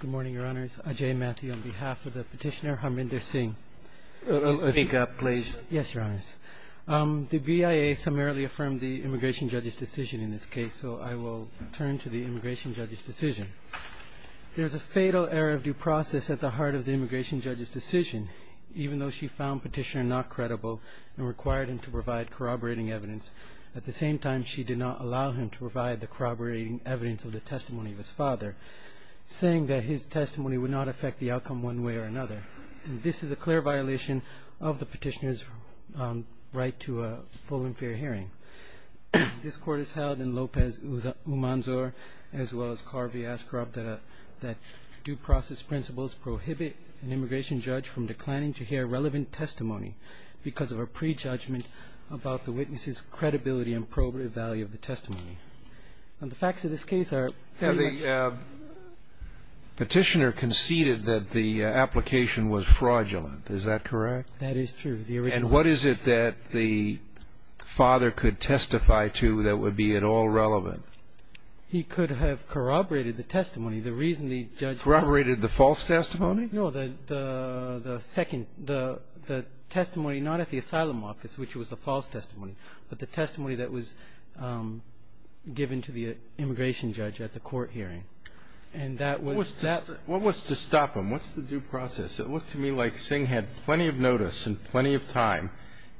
Good morning, Your Honors. Ajay Mathew on behalf of the petitioner, Harminder Singh. Speak up, please. Yes, Your Honors. The BIA summarily affirmed the immigration judge's decision in this case, so I will turn to the immigration judge's decision. There is a fatal error of due process at the heart of the immigration judge's decision. Even though she found petitioner not credible and required him to provide corroborating evidence, at the same time she did not allow him to provide the corroborating evidence of the testimony of his father, saying that his testimony would not affect the outcome one way or another. This is a clear violation of the petitioner's right to a full and fair hearing. This Court has held in Lopez-Umanzor, as well as Carvey-Ascaroff, that due process principles prohibit an immigration judge from declining to hear relevant testimony because of a prejudgment about the witness's credibility and probative value of the testimony. And the facts of this case are very much... The petitioner conceded that the application was fraudulent. Is that correct? That is true. And what is it that the father could testify to that would be at all relevant? He could have corroborated the testimony. The reason the judge... Corroborated the false testimony? No, the second, the testimony not at the asylum office, which was the false testimony, but the testimony that was given to the immigration judge at the court hearing. And that was... What was to stop him? What's the due process? It looked to me like Singh had plenty of notice and plenty of time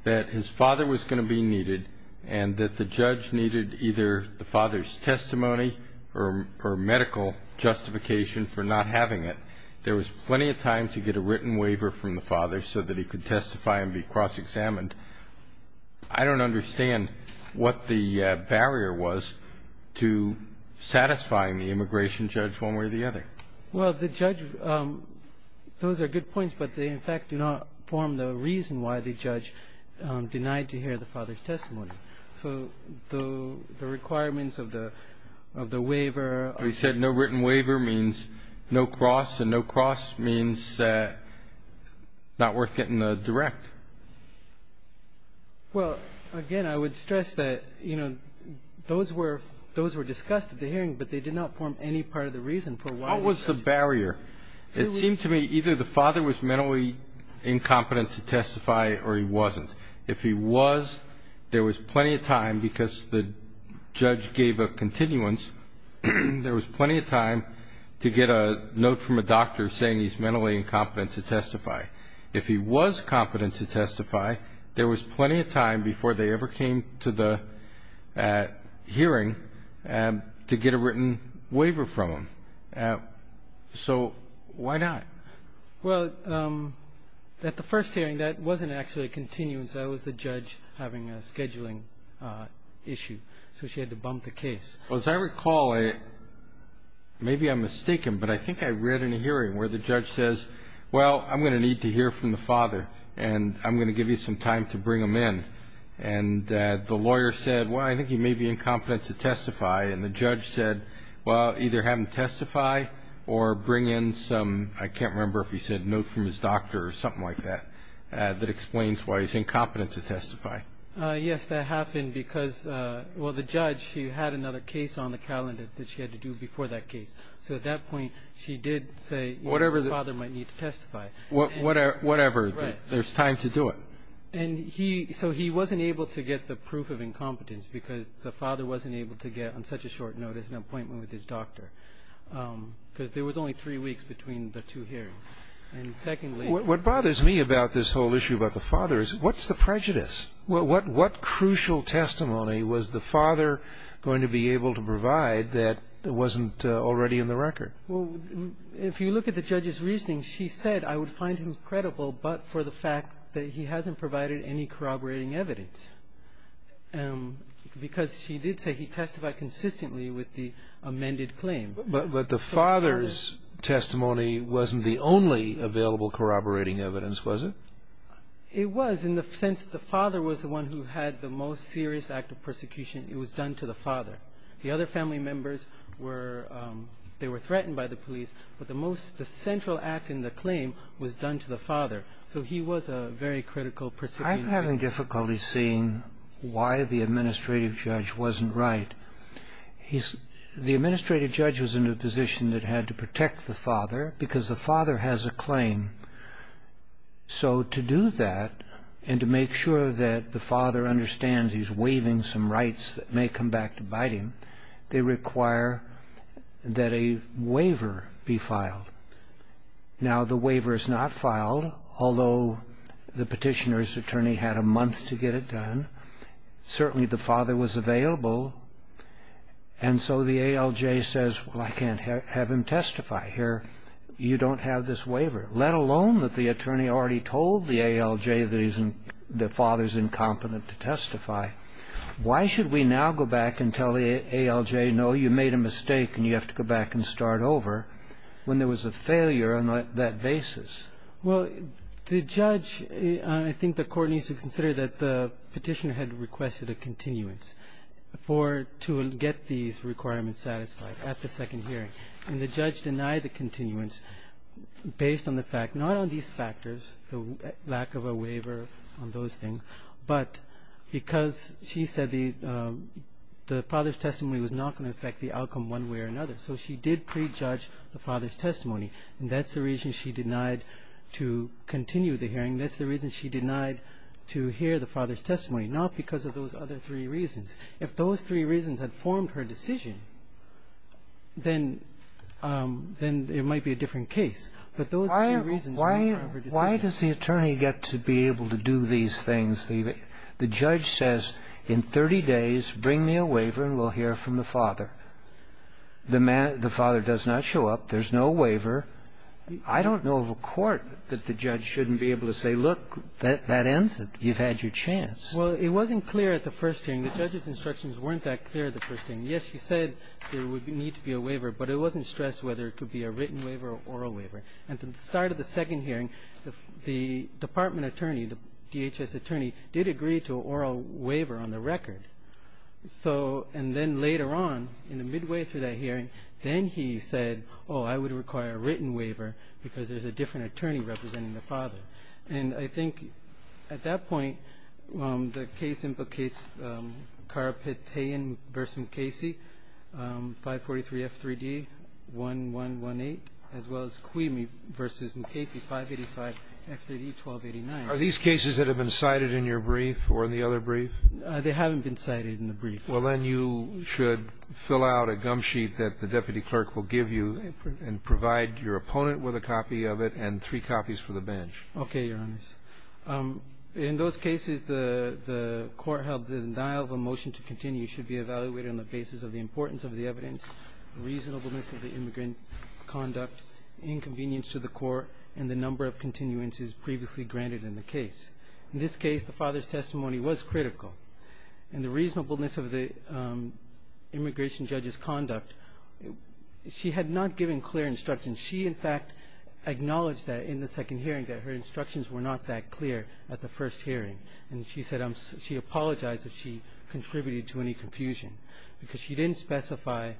that his father was going to be needed and that the judge needed either the father's testimony or medical justification for not having it. There was plenty of time to get a written waiver from the father so that he could testify and be cross-examined. I don't understand what the barrier was to satisfying the immigration judge one way or the other. Well, the judge... Those are good points, but they, in fact, do not form the reason why the judge denied to hear the father's testimony. So the requirements of the waiver... Well, he said no written waiver means no cross, and no cross means not worth getting a direct. Well, again, I would stress that, you know, those were discussed at the hearing, but they did not form any part of the reason for why... What was the barrier? It seemed to me either the father was mentally incompetent to testify or he wasn't. If he was, there was plenty of time because the judge gave a continuance. There was plenty of time to get a note from a doctor saying he's mentally incompetent to testify. If he was competent to testify, there was plenty of time before they ever came to the hearing to get a written waiver from him. So why not? Well, at the first hearing, that wasn't actually a continuance. That was the judge having a scheduling issue, so she had to bump the case. Well, as I recall, maybe I'm mistaken, but I think I read in a hearing where the judge says, well, I'm going to need to hear from the father, and I'm going to give you some time to bring him in. And the lawyer said, well, I think he may be incompetent to testify, and the judge said, well, either have him testify or bring in some, I can't remember if he said, note from his doctor or something like that that explains why he's incompetent to testify. Yes, that happened because, well, the judge, she had another case on the calendar that she had to do before that case. So at that point, she did say, you know, the father might need to testify. Whatever. Right. There's time to do it. And he so he wasn't able to get the proof of incompetence because the father wasn't able to get, on such a short notice, an appointment with his doctor because there was only three weeks between the two hearings. And secondly ---- What bothers me about this whole issue about the father is what's the prejudice? What crucial testimony was the father going to be able to provide that wasn't already in the record? Well, if you look at the judge's reasoning, she said, I would find him credible but for the fact that he hasn't provided any corroborating evidence. Because she did say he testified consistently with the amended claim. But the father's testimony wasn't the only available corroborating evidence, was it? It was in the sense the father was the one who had the most serious act of persecution. It was done to the father. The other family members were they were threatened by the police. But the most the central act in the claim was done to the father. So he was a very critical person. I'm having difficulty seeing why the administrative judge wasn't right. He's the administrative judge was in a position that had to protect the father because the father has a claim. So to do that and to make sure that the father understands he's waiving some rights that may come back to bite him, they require that a waiver be filed. Now the waiver is not filed, although the petitioner's attorney had a month to get it done. Certainly the father was available. And so the ALJ says, well, I can't have him testify here. You don't have this waiver. Let alone that the attorney already told the ALJ that the father's incompetent to testify. Why should we now go back and tell the ALJ, no, you made a mistake and you have to go back and start over, when there was a failure on that basis? Well, the judge, I think the court needs to consider that the petitioner had requested a continuance to get these requirements satisfied at the second hearing. And the judge denied the continuance based on the fact, not on these factors, the lack of a waiver on those things, but because she said the father's testimony was not going to affect the outcome one way or another. So she did prejudge the father's testimony. And that's the reason she denied to continue the hearing. That's the reason she denied to hear the father's testimony, not because of those other three reasons. If those three reasons had formed her decision, then it might be a different case. But those three reasons were part of her decision. Why does the attorney get to be able to do these things? The judge says in 30 days bring me a waiver and we'll hear from the father. The father does not show up. There's no waiver. I don't know of a court that the judge shouldn't be able to say, look, that ends it. You've had your chance. Well, it wasn't clear at the first hearing. The judge's instructions weren't that clear at the first hearing. Yes, she said there would need to be a waiver, but it wasn't stressed whether it could be a written waiver or oral waiver. At the start of the second hearing, the department attorney, the DHS attorney, did agree to an oral waiver on the record. So and then later on, in the midway through that hearing, then he said, oh, I would require a written waiver because there's a different attorney representing the father. And I think at that point the case implicates Carapetain v. Mckacy, 543 F3D 1118, as well as Quimi v. Mckacy, 585 F3D 1289. Are these cases that have been cited in your brief or in the other brief? They haven't been cited in the brief. Well, then you should fill out a gum sheet that the deputy clerk will give you and provide your opponent with a copy of it and three copies for the bench. Okay, Your Honors. In those cases, the court held the denial of a motion to continue should be evaluated on the basis of the importance of the evidence, reasonableness of the immigrant conduct, inconvenience to the court, and the number of continuances previously granted in the case. In this case, the father's testimony was critical. And the reasonableness of the immigration judge's conduct, she had not given clear instructions. She, in fact, acknowledged that in the second hearing that her instructions were not that clear at the first hearing. And she said she apologized if she contributed to any confusion because she didn't specify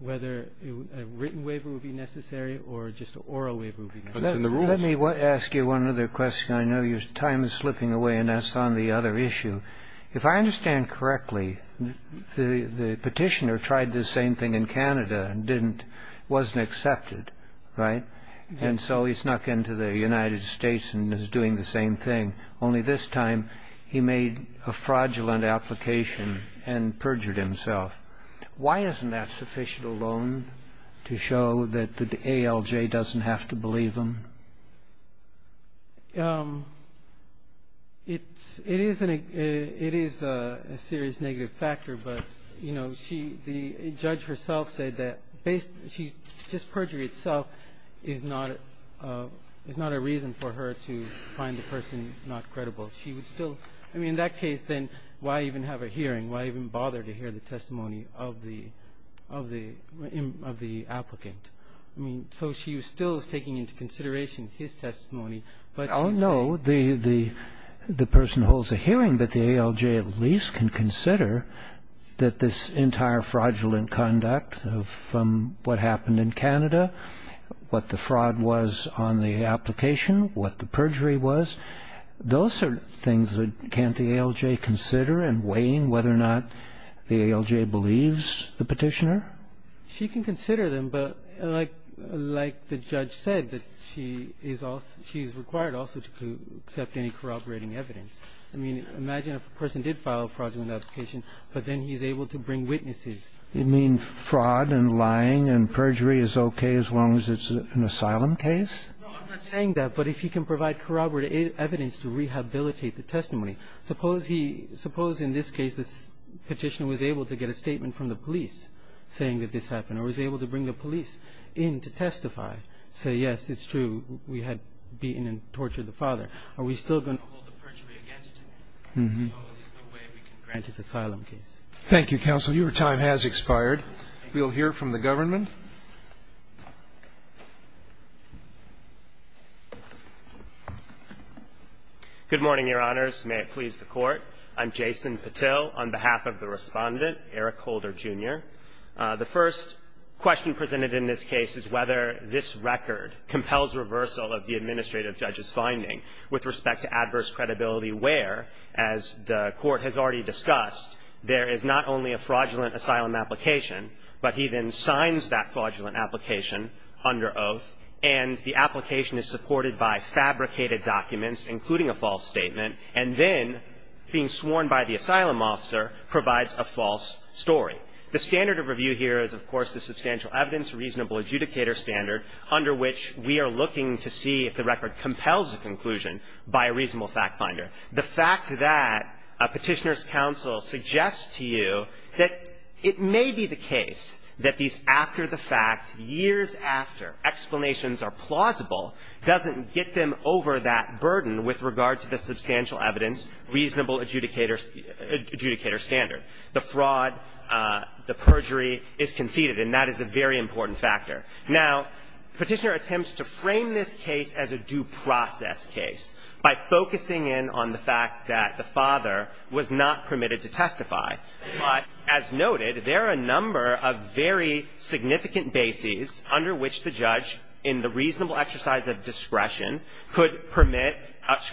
whether a written waiver would be necessary or just an oral waiver would be necessary. Let me ask you one other question. I know your time is slipping away, and that's on the other issue. If I understand correctly, the petitioner tried this same thing in Canada and wasn't accepted, right? And so he snuck into the United States and is doing the same thing, only this time he made a fraudulent application and perjured himself. Why isn't that sufficient alone to show that the ALJ doesn't have to believe him? It is a serious negative factor, but, you know, the judge herself said that just perjury itself is not a reason for her to find the person not credible. She would still – I mean, in that case, then, why even have a hearing? Why even bother to hear the testimony of the applicant? I mean, so she still is taking into consideration his testimony, but she's saying I don't know the person who holds the hearing, but the ALJ at least can consider that this entire fraudulent conduct from what happened in Canada, what the fraud was on the application, what the perjury was, those are things that can't the ALJ consider in weighing whether or not the ALJ believes the petitioner? She can consider them, but like the judge said, that she is also – she is required also to accept any corroborating evidence. I mean, imagine if a person did file a fraudulent application, but then he's able to bring witnesses. You mean fraud and lying and perjury is okay as long as it's an asylum case? No, I'm not saying that, but if he can provide corroborated evidence to rehabilitate the testimony. Suppose he – suppose in this case the petitioner was able to get a statement from the police saying that this happened or was able to bring the police in to testify, say, yes, it's true, we had beaten and tortured the father. Are we still going to hold the perjury against him? So there's no way we can grant his asylum case. Thank you, counsel. Your time has expired. We'll hear from the government. Good morning, Your Honors. May it please the Court. I'm Jason Patil on behalf of the Respondent, Eric Holder, Jr. The first question presented in this case is whether this record compels reversal of the administrative judge's finding with respect to adverse credibility, where, as the Court has already discussed, there is not only a fraudulent asylum application, but he then signs that fraudulent application under oath, and the application is supported by fabricated documents, including a false statement, and then being sworn by the asylum officer provides a false story. The standard of review here is, of course, the substantial evidence reasonable adjudicator standard under which we are looking to see if the record compels a conclusion by a reasonable fact finder. The fact that a petitioner's counsel suggests to you that it may be the case that these after-the-fact, years-after explanations are plausible doesn't get them over that burden with regard to the substantial evidence reasonable adjudicator standard. The fraud, the perjury is conceded, and that is a very important factor. Now, Petitioner attempts to frame this case as a due process case by focusing in on the fact that the father was not permitted to testify. But as noted, there are a number of very significant bases under which the judge in the reasonable exercise of discretion could permit,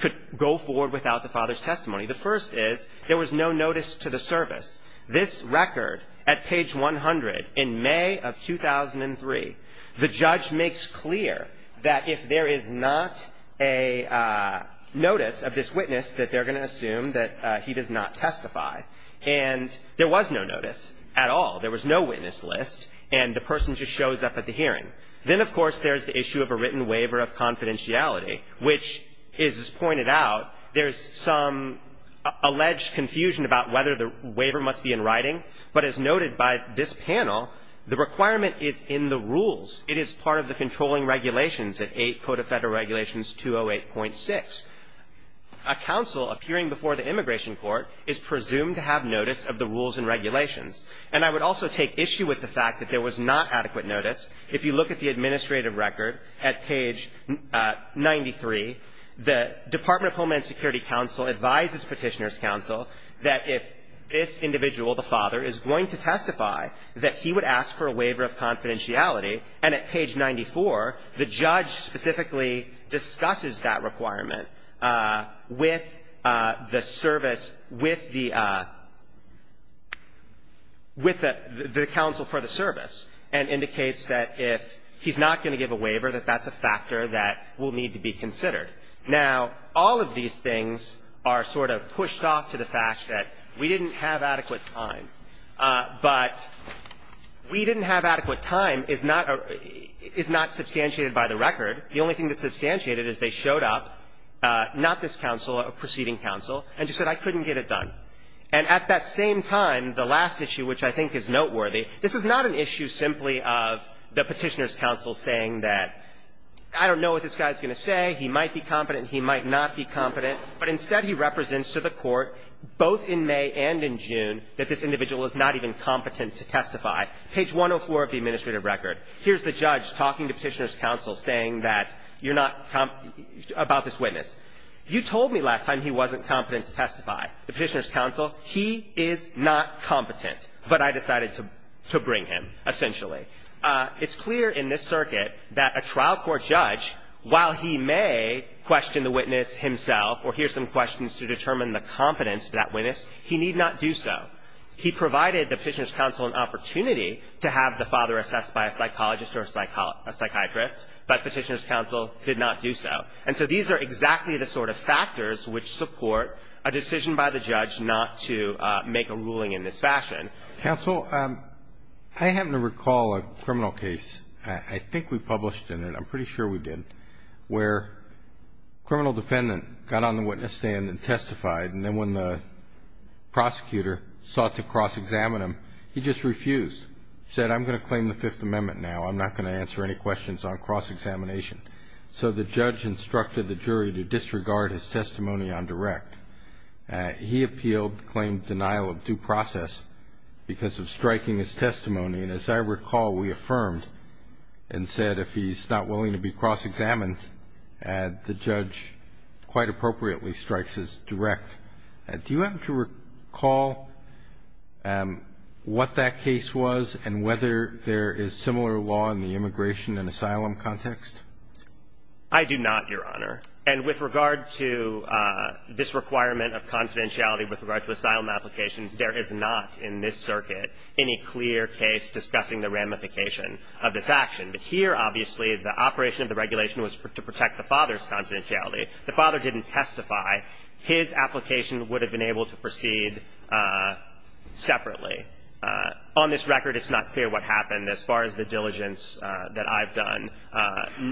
could go forward without the father's testimony. The first is there was no notice to the service. This record at page 100 in May of 2003, the judge makes clear that if there is not a notice of this witness that they're going to assume that he does not testify, and there was no notice at all, there was no witness list, and the person just shows up at the hearing. Then, of course, there's the issue of a written waiver of confidentiality, which is pointed out, there's some alleged confusion about whether the waiver must be in writing. But as noted by this panel, the requirement is in the rules. It is part of the controlling regulations at 8 Code of Federal Regulations 208.6. A counsel appearing before the immigration court is presumed to have notice of the rules and regulations. And I would also take issue with the fact that there was not adequate notice. If you look at the administrative record at page 93, the Department of Homeland Security counsel advises Petitioner's counsel that if this individual, the father, is going to testify, that he would ask for a waiver of confidentiality. And at page 94, the judge specifically discusses that requirement with the service and indicates that if he's not going to give a waiver, that that's a factor that will need to be considered. Now, all of these things are sort of pushed off to the fact that we didn't have adequate time. But we didn't have adequate time is not substantiated by the record. The only thing that's substantiated is they showed up, not this counsel, a preceding counsel, and just said, I couldn't get it done. And at that same time, the last issue, which I think is noteworthy, this is not an issue simply of the Petitioner's counsel saying that I don't know what this guy is going to say, he might be competent, he might not be competent, but instead he represents to the court, both in May and in June, that this individual is not even competent to testify. Page 104 of the administrative record, here's the judge talking to Petitioner's counsel, the witness. You told me last time he wasn't competent to testify. The Petitioner's counsel, he is not competent. But I decided to bring him, essentially. It's clear in this circuit that a trial court judge, while he may question the witness himself or hear some questions to determine the competence of that witness, he need not do so. He provided the Petitioner's counsel an opportunity to have the father assessed by a psychologist or a psychiatrist, but Petitioner's counsel did not do so. And so these are exactly the sort of factors which support a decision by the judge not to make a ruling in this fashion. Counsel, I happen to recall a criminal case, I think we published in it, I'm pretty sure we did, where a criminal defendant got on the witness stand and testified, and then when the prosecutor sought to cross-examine him, he just refused. He said, I'm going to claim the Fifth Amendment now. I'm not going to answer any questions on cross-examination. So the judge instructed the jury to disregard his testimony on direct. He appealed to claim denial of due process because of striking his testimony. And as I recall, we affirmed and said if he's not willing to be cross-examined, the judge quite appropriately strikes his direct. Do you happen to recall what that case was and whether there is similar law in the immigration and asylum context? I do not, Your Honor. And with regard to this requirement of confidentiality with regard to asylum applications, there is not in this circuit any clear case discussing the ramification of this action. But here, obviously, the operation of the regulation was to protect the father's confidentiality. The father didn't testify. His application would have been able to proceed separately. On this record, it's not clear what happened as far as the diligence that I've done.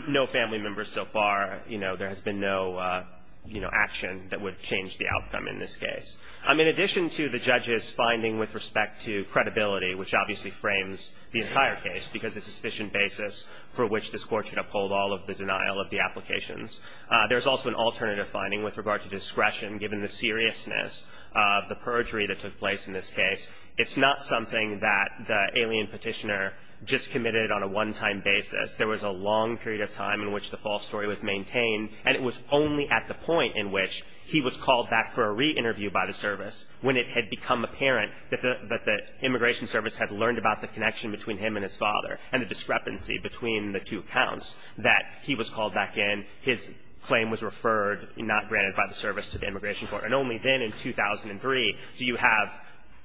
No family members so far. You know, there has been no, you know, action that would change the outcome in this case. In addition to the judge's finding with respect to credibility, which obviously frames the entire case because it's a sufficient basis for which this court should uphold all of the denial of the applications, there's also an alternative finding with regard to discretion given the seriousness of the perjury that took place in this case. It's not something that the alien petitioner just committed on a one-time basis. There was a long period of time in which the false story was maintained, and it was only at the point in which he was called back for a re-interview by the service when it had become apparent that the immigration service had learned about the connection between him and his father and the discrepancy between the two accounts that he was called back in, his claim was referred, not granted by the service, to the immigration court. And only then in 2003 do you have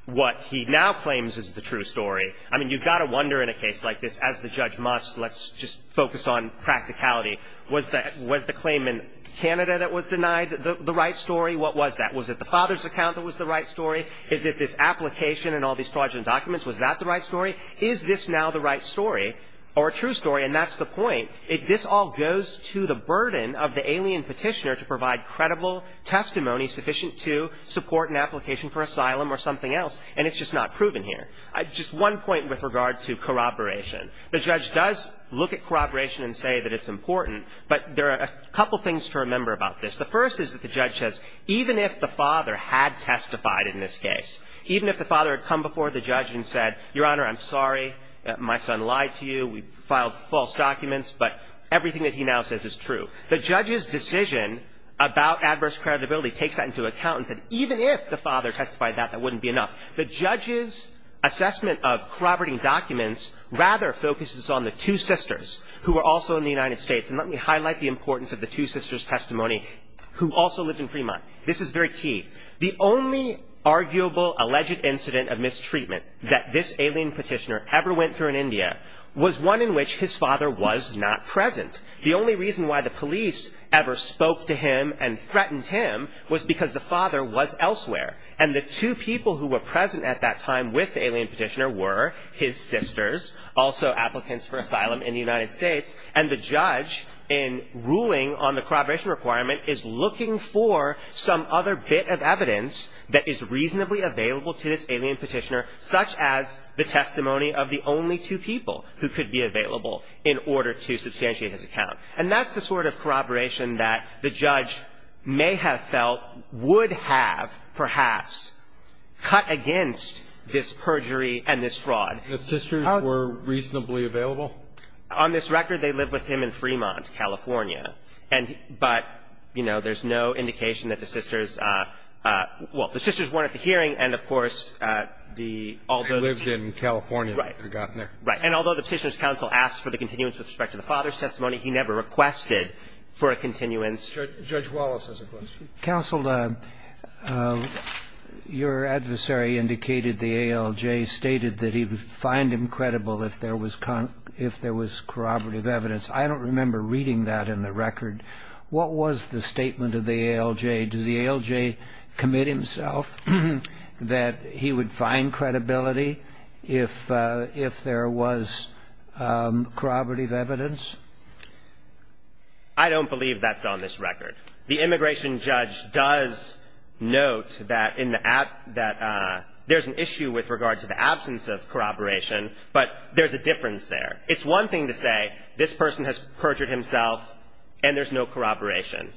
what he now claims is the true story. I mean, you've got to wonder in a case like this, as the judge must, let's just focus on practicality. Was the claim in Canada that was denied the right story? What was that? Was it the father's account that was the right story? Is it this application and all these fraudulent documents? Was that the right story? Is this now the right story or a true story? And that's the point. This all goes to the burden of the alien petitioner to provide credible testimony sufficient to support an application for asylum or something else, and it's just not proven here. Just one point with regard to corroboration. The judge does look at corroboration and say that it's important, but there are a couple things to remember about this. The first is that the judge says, even if the father had testified in this case, even if the father had come before the judge and said, Your Honor, I'm sorry. My son lied to you. We filed false documents, but everything that he now says is true. The judge's decision about adverse credibility takes that into account and said, even if the father testified that, that wouldn't be enough. The judge's assessment of corroborating documents rather focuses on the two sisters who were also in the United States. And let me highlight the importance of the two sisters' testimony who also lived in Fremont. This is very key. The only arguable alleged incident of mistreatment that this alien petitioner ever went through in India was one in which his father was not present. The only reason why the police ever spoke to him and threatened him was because the father was elsewhere, and the two people who were present at that time with the alien petitioner were his sisters, also applicants for asylum in the United States, and the judge in ruling on the corroboration requirement is looking for some other bit of evidence that is reasonably available to this alien petitioner, such as the testimony of the only two people who could be available in order to substantiate his account. And that's the sort of corroboration that the judge may have felt would have, perhaps, cut against this perjury and this fraud. The sisters were reasonably available? On this record, they lived with him in Fremont, California. But, you know, there's no indication that the sisters – well, the sisters weren't at the hearing, and, of course, the – although the two – They lived in California after they got there. Right. And although the Petitioner's Counsel asked for the continuance with respect to the father's testimony, he never requested for a continuance. Judge Wallace has a question. Counsel, your adversary indicated the ALJ stated that he would find him credible if there was – if there was corroborative evidence. I don't remember reading that in the record. What was the statement of the ALJ? Did the ALJ commit himself that he would find credibility if there was corroborative evidence? I don't believe that's on this record. The immigration judge does note that in the – that there's an issue with regard to the absence of corroboration, but there's a difference there. It's one thing to say, this person has perjured himself, and there's no corroboration.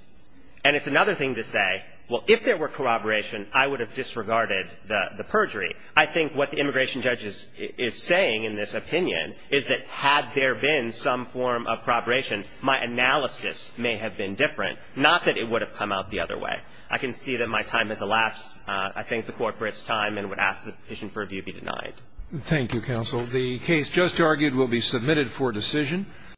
And it's another thing to say, well, if there were corroboration, I would have disregarded the – the perjury. I think what the immigration judge is saying in this opinion is that had there been some form of corroboration, my analysis may have been different. Not that it would have come out the other way. I can see that my time has elapsed. I thank the Court for its time and would ask that the petition for review be denied. Thank you, Counsel. The case just argued will be submitted for decision.